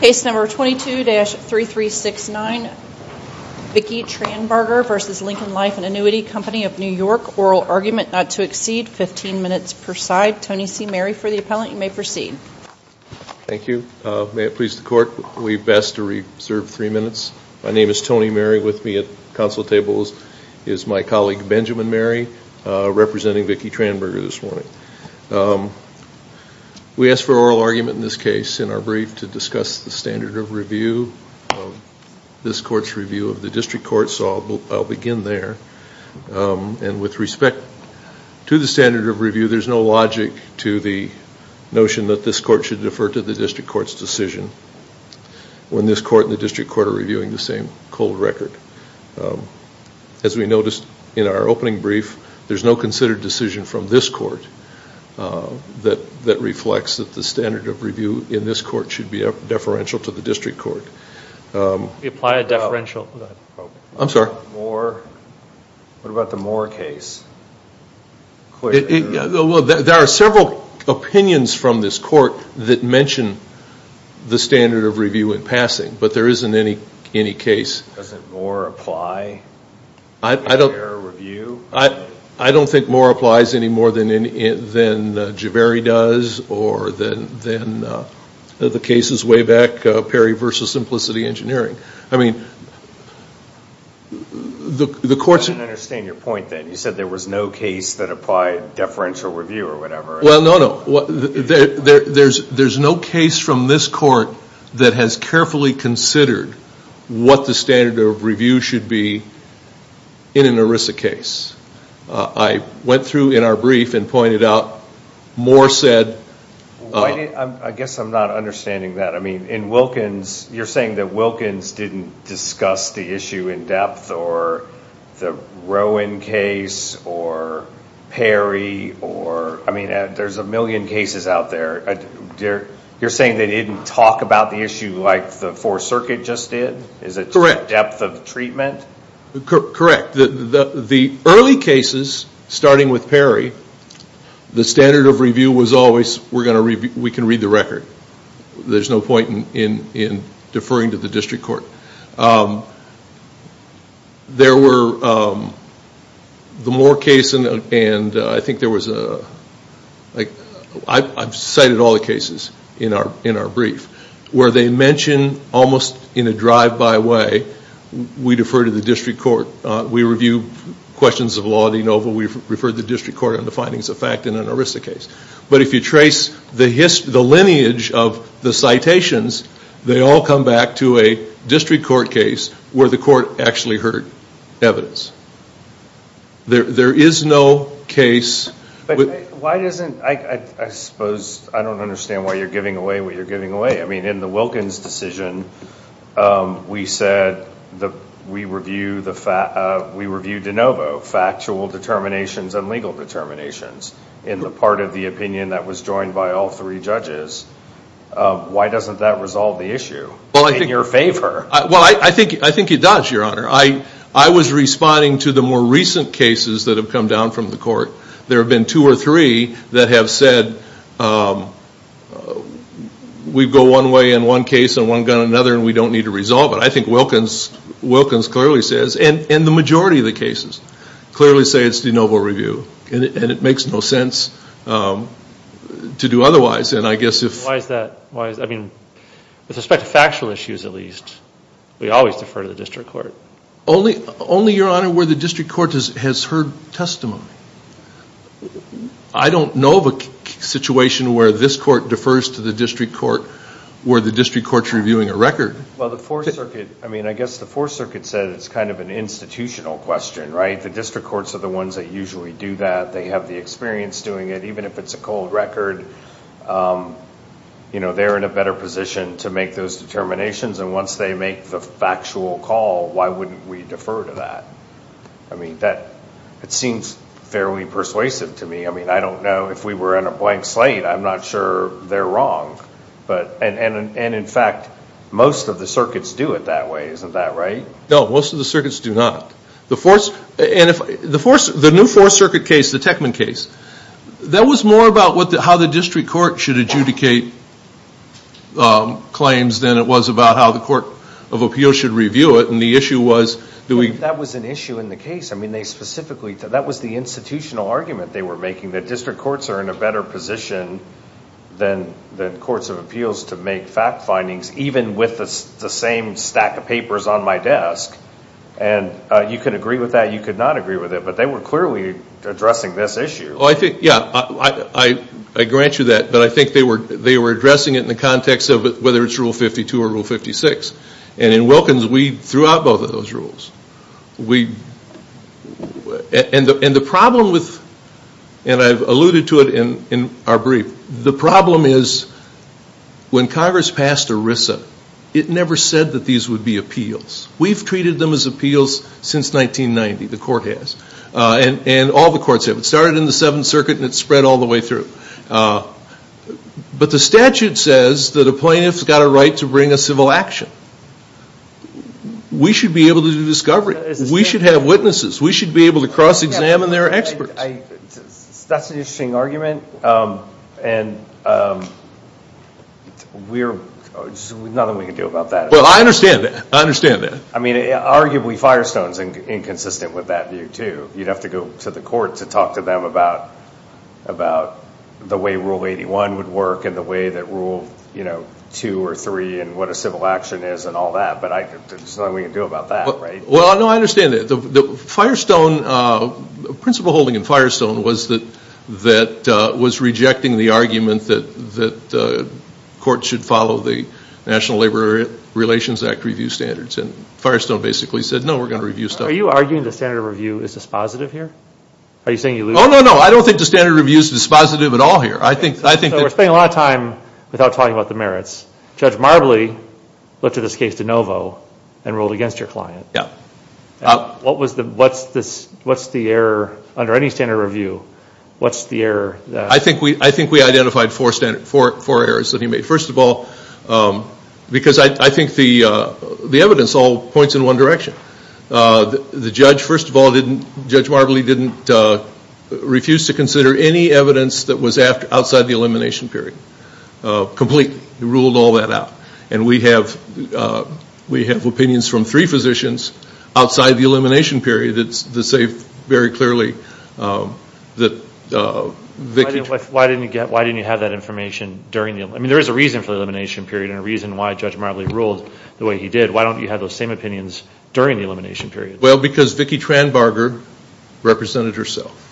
Case number 22-3369, Vicki Tranbarger v. Lincoln Life Annuity Co of NY. Oral argument not to exceed 15 minutes per side. Tony C. Mary for the appellant. You may proceed. Thank you. May it please the court, we've asked to reserve three minutes. My name is Tony Mary. With me at the council table is my colleague Benjamin Mary, representing Vicki Tranbarger this morning. We asked for oral argument in this case in our brief to discuss the standard of review of this court's review of the district court, so I'll begin there. And with respect to the standard of review, there's no logic to the notion that this court should defer to the district court's decision when this court and the district court are reviewing the same cold record. As we noticed in our opening brief, there's no considered decision from this court that reflects that the standard of review in this court should be deferential to the district court. I'm sorry. What about the Moore case? There are several opinions from this court that mention the standard of review in passing, but there isn't any case. Doesn't Moore apply? I don't think Moore applies any more than Javeri does or than the cases way back, Perry v. Simplicity Engineering. I mean, the court's. I don't understand your point then. You said there was no case that applied deferential review or whatever. Well, no, no. There's no case from this court that has carefully considered what the standard of review should be in an ERISA case. I went through in our brief and pointed out Moore said. I guess I'm not understanding that. I mean, in Wilkins, you're saying that Wilkins didn't discuss the issue in depth or the Rowan case or Perry. I mean, there's a million cases out there. You're saying they didn't talk about the issue like the Fourth Circuit just did? Is it depth of treatment? Correct. The early cases, starting with Perry, the standard of review was always we can read the record. There's no point in deferring to the district court. There were the Moore case and I think there was, I've cited all the cases in our brief where they mention almost in a drive-by way, we defer to the district court. We review questions of law at ENOVA. We've referred the district court on the findings of fact in an ERISA case. But if you trace the lineage of the citations, they all come back to a district court case where the court actually heard evidence. There is no case. Why doesn't, I suppose, I don't understand why you're giving away what you're giving away. I mean, in the Wilkins decision, we said we reviewed ENOVA factual determinations and legal determinations in the part of the opinion that was joined by all three judges. Why doesn't that resolve the issue in your favor? Well, I think it does, Your Honor. I was responding to the more recent cases that have come down from the court. There have been two or three that have said, we go one way in one case and one gun in another and we don't need to resolve it. I think Wilkins clearly says, and the majority of the cases, clearly say it's the ENOVA review. And it makes no sense to do otherwise. Why is that? With respect to factual issues at least, we always defer to the district court. Only, Your Honor, where the district court has heard testimony. I don't know of a situation where this court defers to the district court where the district court is reviewing a record. Well, the Fourth Circuit, I mean, I guess the Fourth Circuit said it's kind of an institutional question, right? The district courts are the ones that usually do that. They have the experience doing it. Even if it's a cold record, they're in a better position to make those determinations. And once they make the factual call, why wouldn't we defer to that? I mean, it seems fairly persuasive to me. I mean, I don't know. If we were in a blank slate, I'm not sure they're wrong. And in fact, most of the circuits do it that way. Isn't that right? No, most of the circuits do not. The new Fourth Circuit case, the Techman case, that was more about how the district court should adjudicate claims than it was about how the court of appeals should review it. And the issue was, do we – That was an issue in the case. I mean, they specifically – that was the institutional argument they were making, that district courts are in a better position than courts of appeals to make fact findings, even with the same stack of papers on my desk. And you could agree with that, you could not agree with it. But they were clearly addressing this issue. Well, I think, yeah, I grant you that. But I think they were addressing it in the context of whether it's Rule 52 or Rule 56. And in Wilkins, we threw out both of those rules. And the problem with – and I've alluded to it in our brief. The problem is when Congress passed ERISA, it never said that these would be appeals. We've treated them as appeals since 1990, the court has. And all the courts have. It started in the Seventh Circuit and it's spread all the way through. But the statute says that a plaintiff's got a right to bring a civil action. We should be able to do discovery. We should have witnesses. We should be able to cross-examine their experts. That's an interesting argument. And we're – there's nothing we can do about that. Well, I understand that. I understand that. I mean, arguably Firestone's inconsistent with that view too. You'd have to go to the court to talk to them about the way Rule 81 would work and the way that Rule 2 or 3 and what a civil action is and all that. But there's nothing we can do about that, right? Well, no, I understand that. The Firestone – principal holding in Firestone was that – was rejecting the argument that courts should follow the National Labor Relations Act review standards. And Firestone basically said, no, we're going to review stuff. Are you arguing the standard of review is dispositive here? Are you saying you lose – Oh, no, no. I don't think the standard of review is dispositive at all here. I think that – So we're spending a lot of time without talking about the merits. Judge Marbley looked at this case de novo and ruled against your client. Yeah. What was the – what's the error under any standard of review? What's the error that – I think we identified four errors that he made. First of all, because I think the evidence all points in one direction. The judge, first of all, didn't – Judge Marbley didn't refuse to consider any evidence that was outside the elimination period. Complete. He ruled all that out. And we have opinions from three physicians outside the elimination period that say very clearly that – Why didn't you get – why didn't you have that information during the – I mean, there is a reason for the elimination period and a reason why Judge Marbley ruled the way he did. Why don't you have those same opinions during the elimination period? Well, because Vicki Tranbarger represented herself.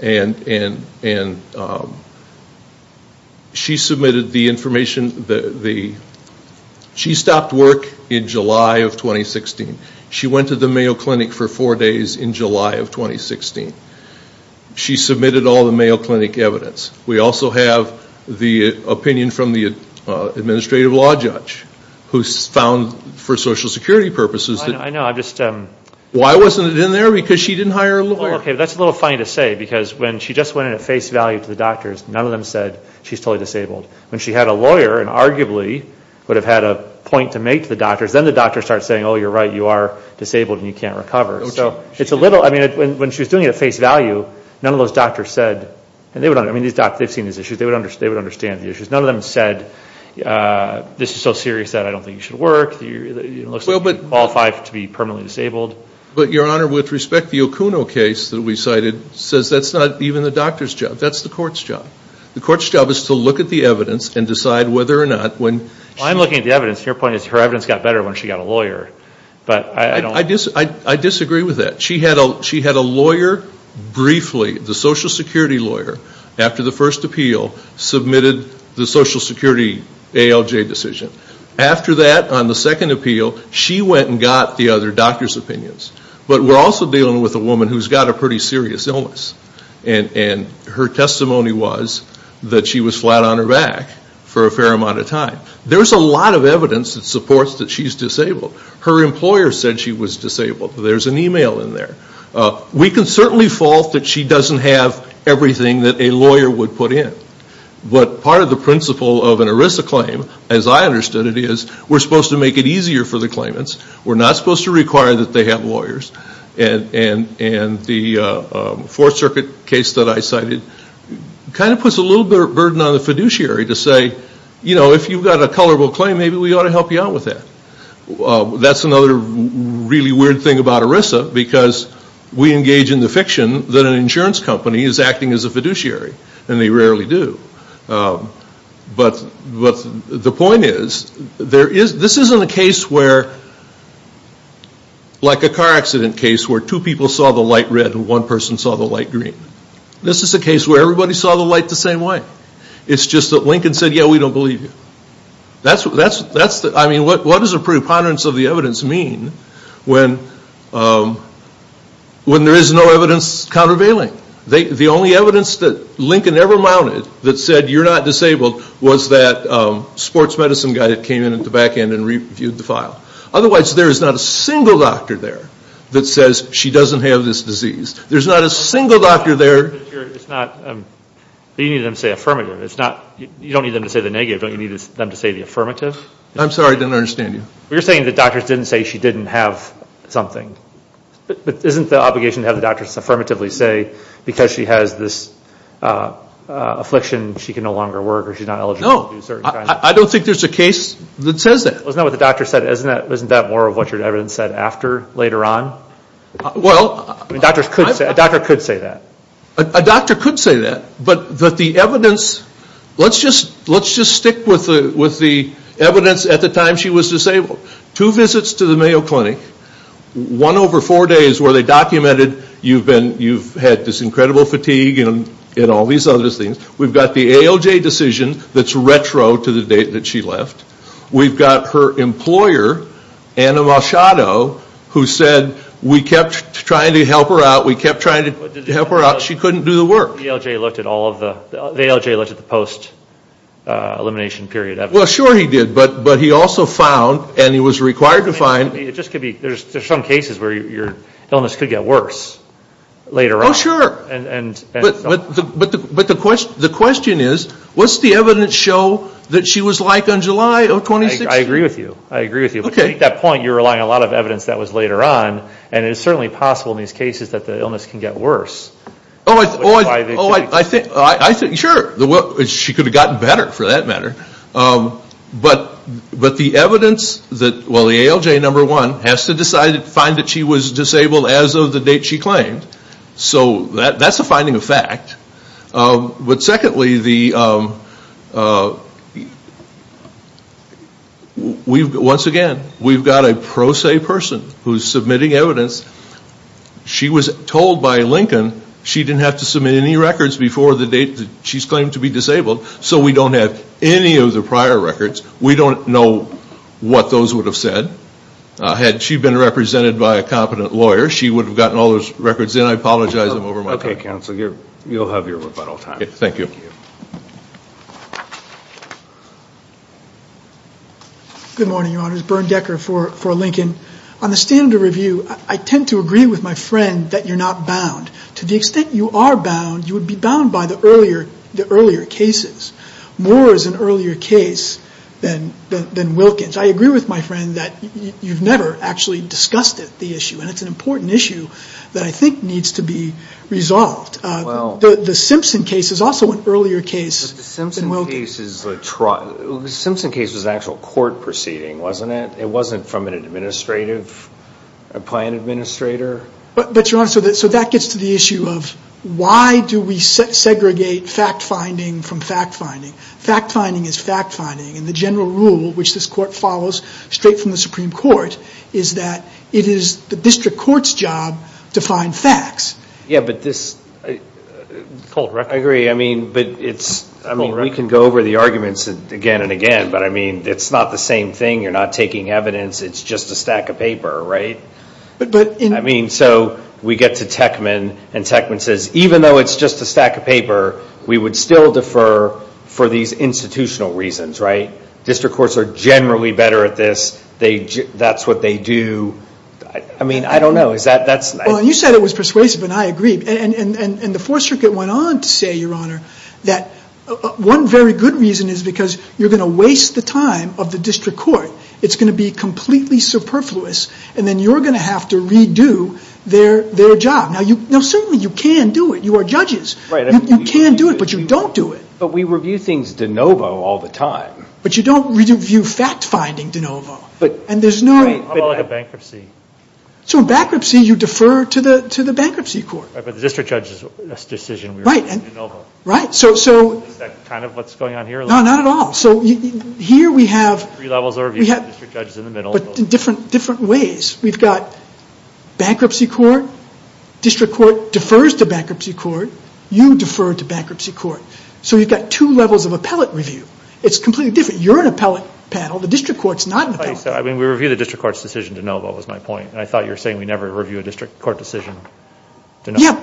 And she submitted the information – she stopped work in July of 2016. She went to the Mayo Clinic for four days in July of 2016. She submitted all the Mayo Clinic evidence. We also have the opinion from the administrative law judge who found, for Social Security purposes – I know. I just – Why wasn't it in there? Because she didn't hire a lawyer. Well, okay, that's a little funny to say because when she just went in at face value to the doctors, none of them said she's totally disabled. When she had a lawyer and arguably would have had a point to make to the doctors, then the doctors start saying, oh, you're right, you are disabled and you can't recover. So it's a little – I mean, when she was doing it at face value, none of those doctors said – I mean, these doctors, they've seen these issues. They would understand the issues. None of them said this is so serious that I don't think you should work. It looks like you're qualified to be permanently disabled. But, Your Honor, with respect, the Okuno case that we cited says that's not even the doctor's job. That's the court's job. The court's job is to look at the evidence and decide whether or not when – I'm looking at the evidence. Your point is her evidence got better when she got a lawyer. But I don't – I disagree with that. She had a lawyer briefly, the Social Security lawyer, after the first appeal, submitted the Social Security ALJ decision. After that, on the second appeal, she went and got the other doctor's opinions. But we're also dealing with a woman who's got a pretty serious illness. And her testimony was that she was flat on her back for a fair amount of time. There's a lot of evidence that supports that she's disabled. Her employer said she was disabled. There's an email in there. We can certainly fault that she doesn't have everything that a lawyer would put in. But part of the principle of an ERISA claim, as I understood it, is we're supposed to make it easier for the claimants. We're not supposed to require that they have lawyers. And the Fourth Circuit case that I cited kind of puts a little bit of a burden on the fiduciary to say, you know, if you've got a colorable claim, maybe we ought to help you out with that. That's another really weird thing about ERISA, because we engage in the fiction that an insurance company is acting as a fiduciary. And they rarely do. But the point is, this isn't a case where, like a car accident case, where two people saw the light red and one person saw the light green. This is a case where everybody saw the light the same way. It's just that Lincoln said, yeah, we don't believe you. I mean, what does a preponderance of the evidence mean when there is no evidence countervailing? The only evidence that Lincoln ever mounted that said you're not disabled was that sports medicine guy that came in at the back end and reviewed the file. Otherwise, there is not a single doctor there that says she doesn't have this disease. There's not a single doctor there. But you need them to say affirmative. You don't need them to say the negative. Don't you need them to say the affirmative? I'm sorry, I didn't understand you. You're saying the doctors didn't say she didn't have something. But isn't the obligation to have the doctors affirmatively say, because she has this affliction, she can no longer work or she's not eligible to do certain kinds of things? No, I don't think there's a case that says that. Isn't that what the doctor said? Isn't that more of what your evidence said after, later on? A doctor could say that. A doctor could say that. But the evidence, let's just stick with the evidence at the time she was disabled. Two visits to the Mayo Clinic, one over four days where they documented you've had this incredible fatigue and all these other things. We've got the ALJ decision that's retro to the date that she left. We've got her employer, Anna Malchado, who said, we kept trying to help her out, we kept trying to help her out, she couldn't do the work. The ALJ looked at the post-elimination period evidence. Well, sure he did, but he also found, and he was required to find. There's some cases where your illness could get worse later on. Oh, sure. But the question is, what's the evidence show that she was like on July 26th? I agree with you. I agree with you. But to make that point, you're relying on a lot of evidence that was later on. And it's certainly possible in these cases that the illness can get worse. Oh, I think, sure. She could have gotten better, for that matter. But the evidence, well, the ALJ, number one, has to find that she was disabled as of the date she claimed. So that's a finding of fact. But secondly, once again, we've got a pro se person who's submitting evidence. She was told by Lincoln she didn't have to submit any records before the date she's claimed to be disabled. So we don't have any of the prior records. We don't know what those would have said. Had she been represented by a competent lawyer, she would have gotten all those records in. I apologize, I'm over my time. Okay, counsel, you'll have your rebuttal time. Thank you. Good morning, Your Honor. It's Bernd Decker for Lincoln. On the standard of review, I tend to agree with my friend that you're not bound. To the extent you are bound, you would be bound by the earlier cases. More is an earlier case than Wilkins. I agree with my friend that you've never actually discussed the issue. And it's an important issue that I think needs to be resolved. The Simpson case is also an earlier case than Wilkins. But the Simpson case is a trial. The Simpson case was an actual court proceeding, wasn't it? It wasn't from an administrative, a client administrator. But, Your Honor, so that gets to the issue of why do we segregate fact-finding from fact-finding. Fact-finding is fact-finding. And the general rule, which this court follows straight from the Supreme Court, is that it is the district court's job to find facts. Yeah, but this, I agree. I mean, we can go over the arguments again and again. But, I mean, it's not the same thing. You're not taking evidence. It's just a stack of paper, right? I mean, so we get to Techman. And Techman says, even though it's just a stack of paper, we would still defer for these institutional reasons, right? District courts are generally better at this. That's what they do. I mean, I don't know. You said it was persuasive, and I agree. And the Fourth Circuit went on to say, Your Honor, that one very good reason is because you're going to waste the time of the district court. It's going to be completely superfluous. And then you're going to have to redo their job. Now, certainly you can do it. You are judges. You can do it, but you don't do it. But we review things de novo all the time. But you don't review fact-finding de novo. How about like a bankruptcy? So in bankruptcy, you defer to the bankruptcy court. Right, but the district judge's decision was de novo. Right. Is that kind of what's going on here? No, not at all. So here we have- Three levels of review. The district judge is in the middle. But in different ways. We've got bankruptcy court. District court defers to bankruptcy court. You defer to bankruptcy court. So you've got two levels of appellate review. It's completely different. You're an appellate panel. The district court's not an appellate panel. I mean, we review the district court's decision de novo, is my point. And I thought you were saying we never review a district court decision de novo. Yeah.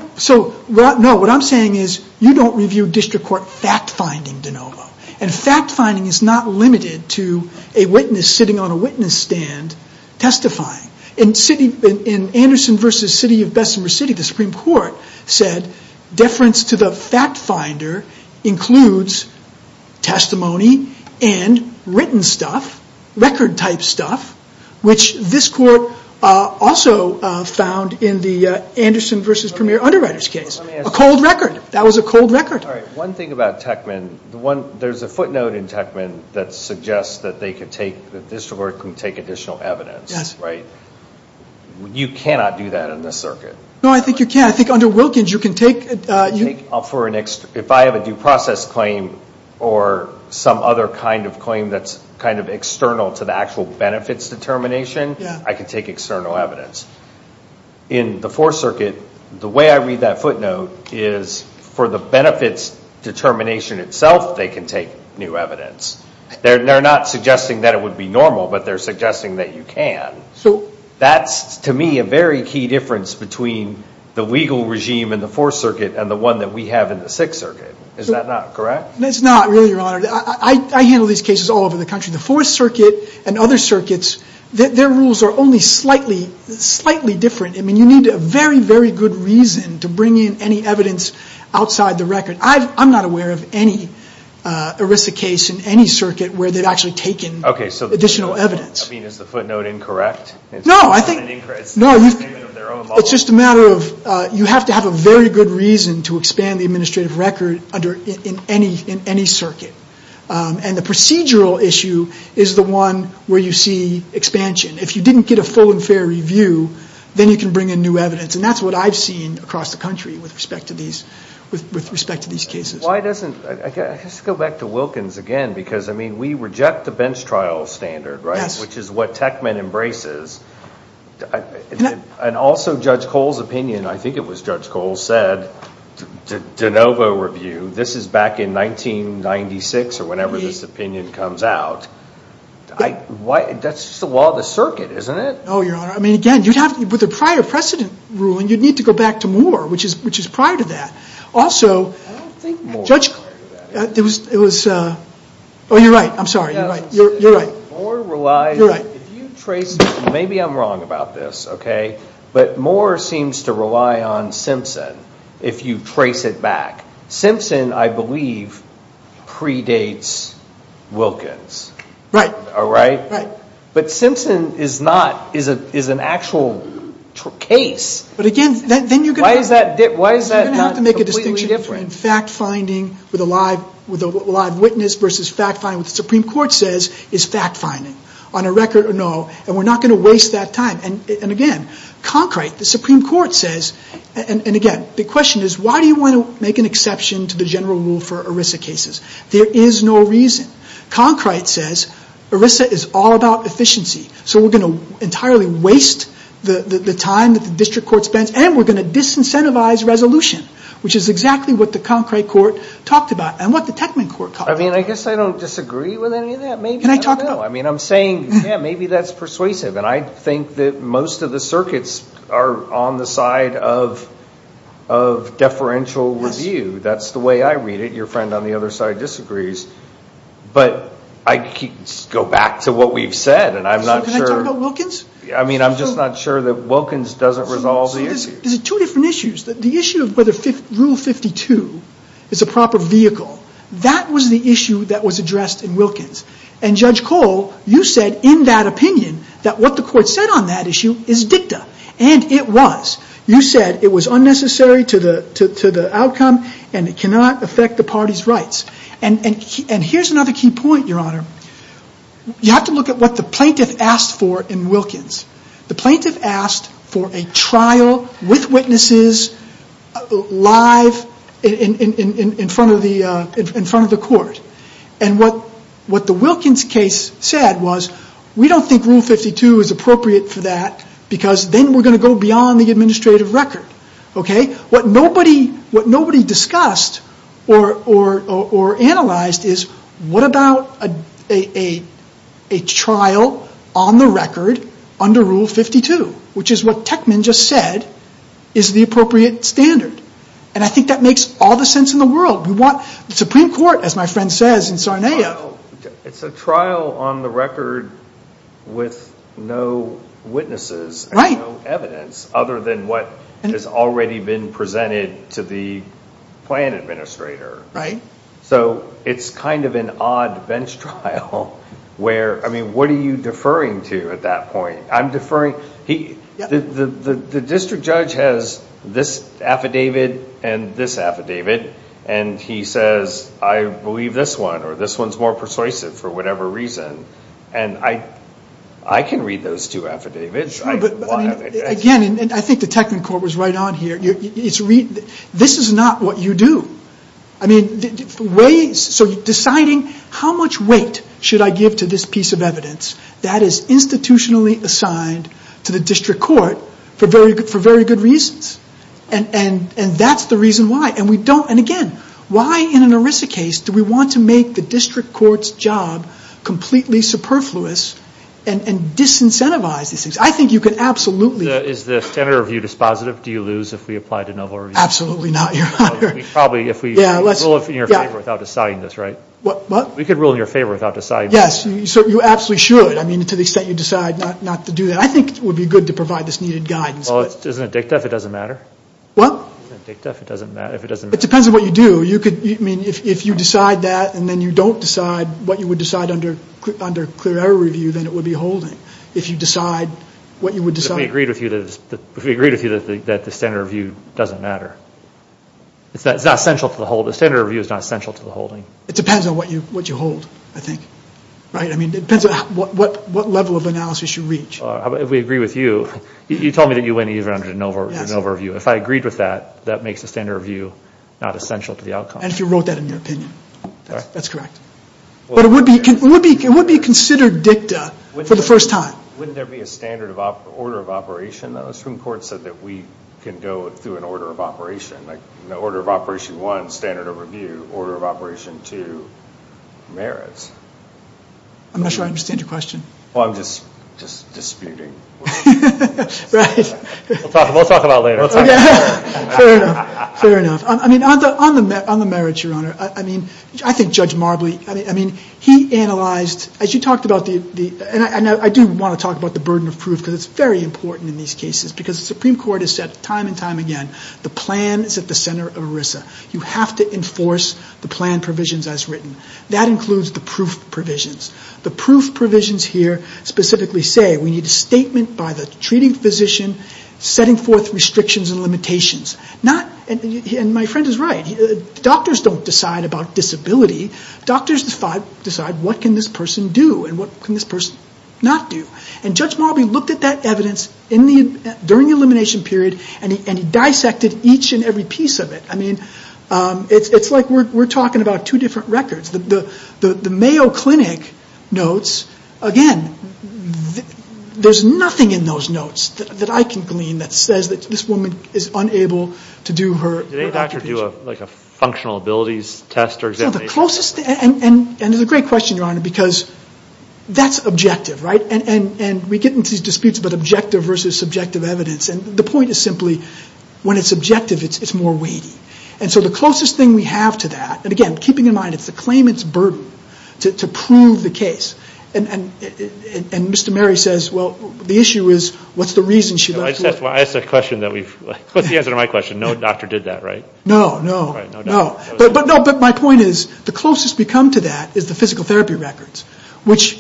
And fact-finding is not limited to a witness sitting on a witness stand testifying. In Anderson v. City of Bessemer City, the Supreme Court said, deference to the fact-finder includes testimony and written stuff, record-type stuff, which this court also found in the Anderson v. Premier Underwriters case. A cold record. That was a cold record. All right. One thing about Techman. There's a footnote in Techman that suggests that they could take, that the district court could take additional evidence. Yes. Right? You cannot do that in this circuit. No, I think you can. I think under Wilkins you can take. If I have a due process claim or some other kind of claim that's kind of external to the actual benefits determination, I can take external evidence. In the Fourth Circuit, the way I read that footnote is for the benefits determination itself, they can take new evidence. They're not suggesting that it would be normal, but they're suggesting that you can. That's, to me, a very key difference between the legal regime in the Fourth Circuit and the one that we have in the Sixth Circuit. Is that not correct? That's not really, Your Honor. I handle these cases all over the country. The Fourth Circuit and other circuits, their rules are only slightly different. I mean, you need a very, very good reason to bring in any evidence outside the record. I'm not aware of any ERISA case in any circuit where they've actually taken additional evidence. I mean, is the footnote incorrect? No. It's just a matter of you have to have a very good reason to expand the administrative record in any circuit. And the procedural issue is the one where you see expansion. If you didn't get a full and fair review, then you can bring in new evidence. And that's what I've seen across the country with respect to these cases. Why doesn't – let's go back to Wilkins again, because, I mean, we reject the bench trial standard, right? Yes. Which is what Techman embraces. And also, Judge Cole's opinion – I think it was Judge Cole – said, this is back in 1996 or whenever this opinion comes out. That's just the law of the circuit, isn't it? No, Your Honor. I mean, again, with a prior precedent ruling, you'd need to go back to Moore, which is prior to that. Also, Judge – I don't think Moore relied on that. It was – oh, you're right. I'm sorry. You're right. Moore relies – You're right. If you trace – maybe I'm wrong about this, okay? But Moore seems to rely on Simpson if you trace it back. Simpson, I believe, predates Wilkins. Right. All right? Right. But Simpson is not – is an actual case. But again, then you're going to have – Why is that not completely different? You're going to have to make a distinction between fact-finding with a live witness versus fact-finding with the Supreme Court says is fact-finding, on a record or no. And we're not going to waste that time. And again, Concrete, the Supreme Court says – and again, the question is why do you want to make an exception to the general rule for ERISA cases? There is no reason. Concrete says ERISA is all about efficiency. So we're going to entirely waste the time that the district court spends, and we're going to disincentivize resolution, which is exactly what the Concrete Court talked about and what the Techman Court talked about. I mean, I guess I don't disagree with any of that. Can I talk – No, I mean, I'm saying, yeah, maybe that's persuasive. And I think that most of the circuits are on the side of deferential review. That's the way I read it. Your friend on the other side disagrees. But I go back to what we've said, and I'm not sure – Can I talk about Wilkins? I mean, I'm just not sure that Wilkins doesn't resolve the issue. There's two different issues. The issue of whether Rule 52 is a proper vehicle, that was the issue that was addressed in Wilkins. And, Judge Cole, you said in that opinion that what the court said on that issue is dicta. And it was. You said it was unnecessary to the outcome and it cannot affect the party's rights. And here's another key point, Your Honor. You have to look at what the plaintiff asked for in Wilkins. The plaintiff asked for a trial with witnesses live in front of the court. And what the Wilkins case said was, we don't think Rule 52 is appropriate for that because then we're going to go beyond the administrative record. What nobody discussed or analyzed is, what about a trial on the record under Rule 52? Which is what Techman just said is the appropriate standard. And I think that makes all the sense in the world. We want the Supreme Court, as my friend says in Sarnia. It's a trial on the record with no witnesses. Right. And no evidence other than what has already been presented to the plan administrator. Right. So it's kind of an odd bench trial where, I mean, what are you deferring to at that point? I'm deferring. The district judge has this affidavit and this affidavit. And he says, I believe this one or this one is more persuasive for whatever reason. And I can read those two affidavits. Again, I think the Techman court was right on here. This is not what you do. I mean, ways, so deciding how much weight should I give to this piece of evidence that is institutionally assigned to the district court for very good reasons. And that's the reason why. And we don't, and again, why in an ERISA case do we want to make the district court's job completely superfluous and disincentivize these things? I think you could absolutely. Is the senator view dispositive? Do you lose if we apply to no vote? Absolutely not, Your Honor. We probably, if we rule in your favor without deciding this, right? What? We could rule in your favor without deciding this. Yes. So you absolutely should. I mean, to the extent you decide not to do that. I think it would be good to provide this needed guidance. Well, isn't it dicta if it doesn't matter? What? Isn't it dicta if it doesn't matter? It depends on what you do. You could, I mean, if you decide that and then you don't decide what you would decide under clear error review, then it would be holding. If you decide what you would decide. But we agreed with you that the senator view doesn't matter. It's not essential to the holding. The senator view is not essential to the holding. It depends on what you hold, I think. Right? I mean, it depends on what level of analysis you reach. If we agree with you, you told me that you went even under the no vote review. If I agreed with that, that makes the senator view not essential to the outcome. And if you wrote that in your opinion. That's correct. But it would be considered dicta for the first time. Wouldn't there be a standard of order of operation? The Supreme Court said that we can go through an order of operation. Order of operation one, standard of review. Order of operation two, merits. I'm not sure I understand your question. Well, I'm just disputing. Right. We'll talk about it later. Fair enough. Fair enough. I mean, on the merits, Your Honor. I mean, I think Judge Marbley, I mean, he analyzed, as you talked about the, and I do want to talk about the burden of proof because it's very important in these cases because the Supreme Court has said time and time again, the plan is at the center of ERISA. You have to enforce the plan provisions as written. That includes the proof provisions. The proof provisions here specifically say we need a statement by the treating physician setting forth restrictions and limitations. And my friend is right. Doctors don't decide about disability. Doctors decide what can this person do and what can this person not do. And Judge Marbley looked at that evidence during the elimination period and he dissected each and every piece of it. I mean, it's like we're talking about two different records. The Mayo Clinic notes, again, there's nothing in those notes that I can glean that says that this woman is unable to do her occupation. Did any doctor do a functional abilities test or examination? No, the closest, and it's a great question, Your Honor, because that's objective, right? And we get into these disputes about objective versus subjective evidence. And the point is simply when it's subjective, it's more weighty. And so the closest thing we have to that, and again, keeping in mind, it's the claimant's burden to prove the case. And Mr. Mary says, well, the issue is what's the reason she left work? I asked a question that we've, what's the answer to my question? No doctor did that, right? No, no, no. But my point is the closest we come to that is the physical therapy records, which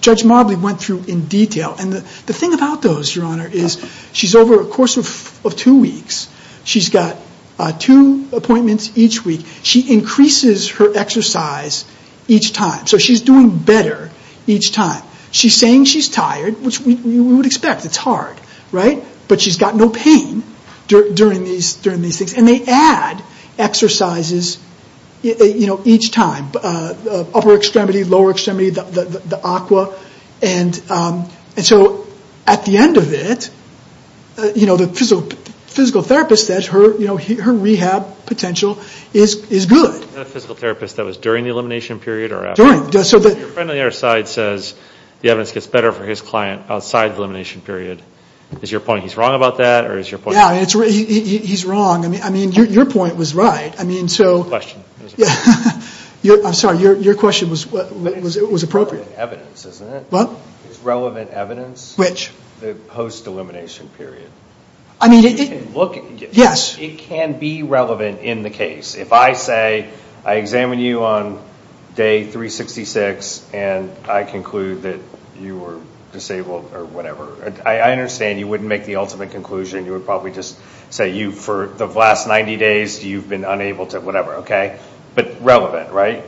Judge Marbley went through in detail. And the thing about those, Your Honor, is she's over a course of two weeks. She's got two appointments each week. She increases her exercise each time. So she's doing better each time. She's saying she's tired, which we would expect. It's hard, right? But she's got no pain during these things. And they add exercises each time, upper extremity, lower extremity, the aqua. And so at the end of it, the physical therapist says her rehab potential is good. Was that a physical therapist that was during the elimination period or after? During. Your friend on the other side says the evidence gets better for his client outside the elimination period. Is your point he's wrong about that or is your point? Yeah, he's wrong. I mean, your point was right. Question. I'm sorry. Your question was appropriate. It's relevant evidence, isn't it? What? It's relevant evidence. Which? The post-elimination period. Yes. It can be relevant in the case. If I say I examine you on day 366 and I conclude that you were disabled or whatever, I understand you wouldn't make the ultimate conclusion. You would probably just say for the last 90 days you've been unable to whatever, okay? But relevant, right?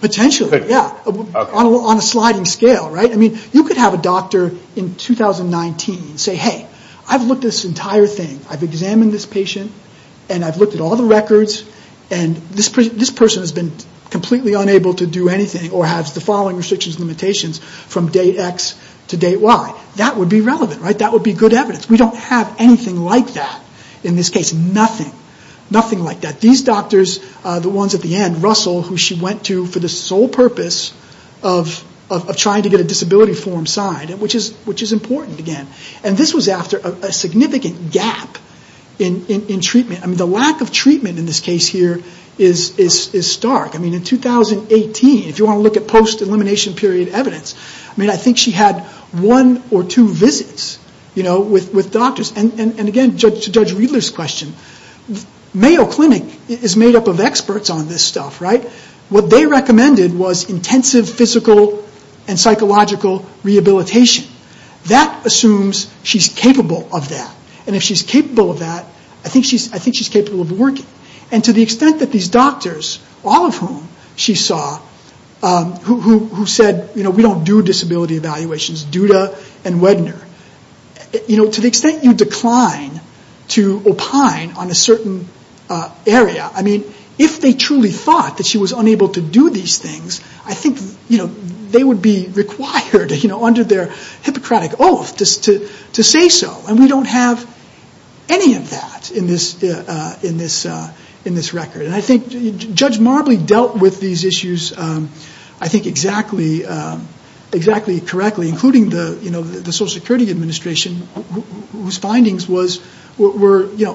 Potentially, yeah. On a sliding scale, right? I mean, you could have a doctor in 2019 say, hey, I've looked at this entire thing. I've examined this patient and I've looked at all the records and this person has been completely unable to do anything or has the following restrictions and limitations from date X to date Y. That would be relevant, right? That would be good evidence. We don't have anything like that in this case. Nothing. Nothing like that. These doctors, the ones at the end, Russell, who she went to for the sole purpose of trying to get a disability form signed, which is important, again. And this was after a significant gap in treatment. I mean, the lack of treatment in this case here is stark. I mean, in 2018, if you want to look at post-elimination period evidence, I mean, I think she had one or two visits with doctors. And again, to Judge Wheeler's question, Mayo Clinic is made up of experts on this stuff, right? What they recommended was intensive physical and psychological rehabilitation. That assumes she's capable of that. And if she's capable of that, I think she's capable of working. And to the extent that these doctors, all of whom she saw, who said, we don't do disability evaluations, Duda and Wedner, to the extent you decline to opine on a certain area, I mean, if they truly thought that she was unable to do these things, I think they would be required under their Hippocratic oath to say so. And we don't have any of that in this record. And I think Judge Marbley dealt with these issues, I think, exactly correctly, including the Social Security Administration, whose findings were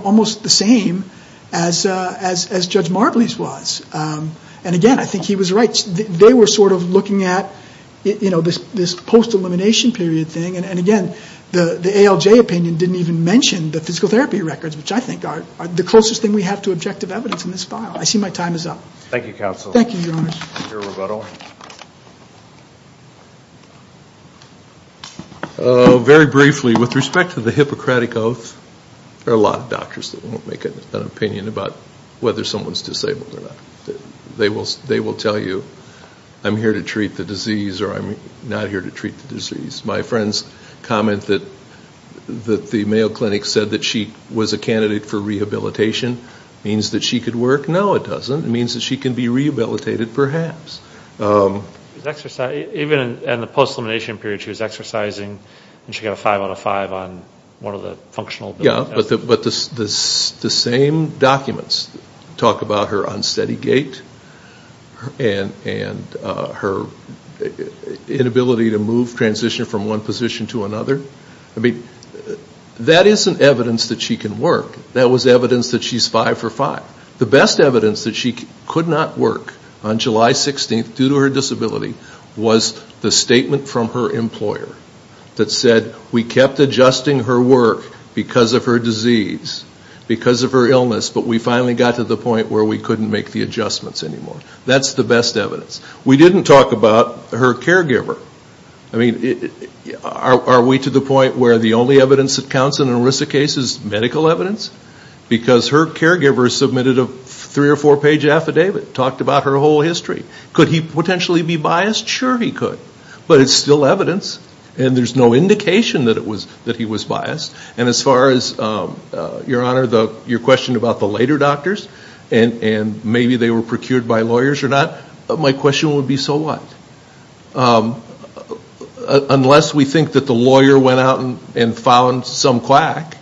almost the same as Judge Marbley's was. And again, I think he was right. They were sort of looking at this post-elimination period thing. And again, the ALJ opinion didn't even mention the physical therapy records, which I think are the closest thing we have to objective evidence in this file. I see my time is up. Thank you, Counsel. Thank you, Your Honors. Thank you, Roberto. Very briefly, with respect to the Hippocratic oath, there are a lot of doctors that won't make an opinion about whether someone's disabled or not. They will tell you, I'm here to treat the disease or I'm not here to treat the disease. My friend's comment that the Mayo Clinic said that she was a candidate for rehabilitation means that she could work. No, it doesn't. It means that she can be rehabilitated, perhaps. Even in the post-elimination period, she was exercising, and she got a five out of five on one of the functional tests. Yeah, but the same documents talk about her unsteady gait and her inability to move, transition from one position to another. I mean, that isn't evidence that she can work. That was evidence that she's five for five. The best evidence that she could not work on July 16th due to her disability was the statement from her employer that said, we kept adjusting her work because of her disease, because of her illness, but we finally got to the point where we couldn't make the adjustments anymore. That's the best evidence. We didn't talk about her caregiver. I mean, are we to the point where the only evidence that counts in an ERISA case is medical evidence? Because her caregiver submitted a three- or four-page affidavit, talked about her whole history. Could he potentially be biased? Sure he could, but it's still evidence, and there's no indication that he was biased. And as far as, Your Honor, your question about the later doctors and maybe they were procured by lawyers or not, my question would be, so what? Unless we think that the lawyer went out and found some quack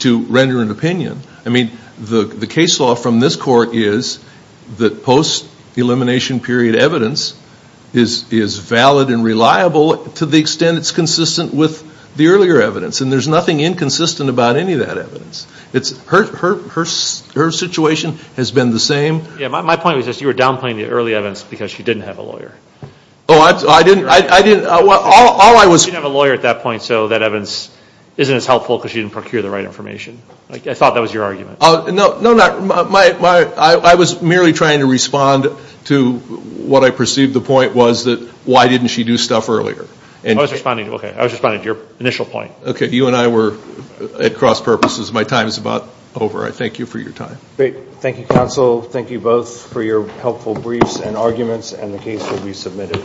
to render an opinion. I mean, the case law from this court is that post-elimination period evidence is valid and reliable to the extent it's consistent with the earlier evidence, and there's nothing inconsistent about any of that evidence. Her situation has been the same. Yeah, my point was just you were downplaying the early evidence because she didn't have a lawyer. Oh, I didn't. She didn't have a lawyer at that point, so that evidence isn't as helpful because she didn't procure the right information. I thought that was your argument. No, I was merely trying to respond to what I perceived the point was that why didn't she do stuff earlier. I was responding to your initial point. Okay, you and I were at cross purposes. My time is about over. I thank you for your time. Thank you, counsel. Thank you both for your helpful briefs and arguments, and the case will be submitted.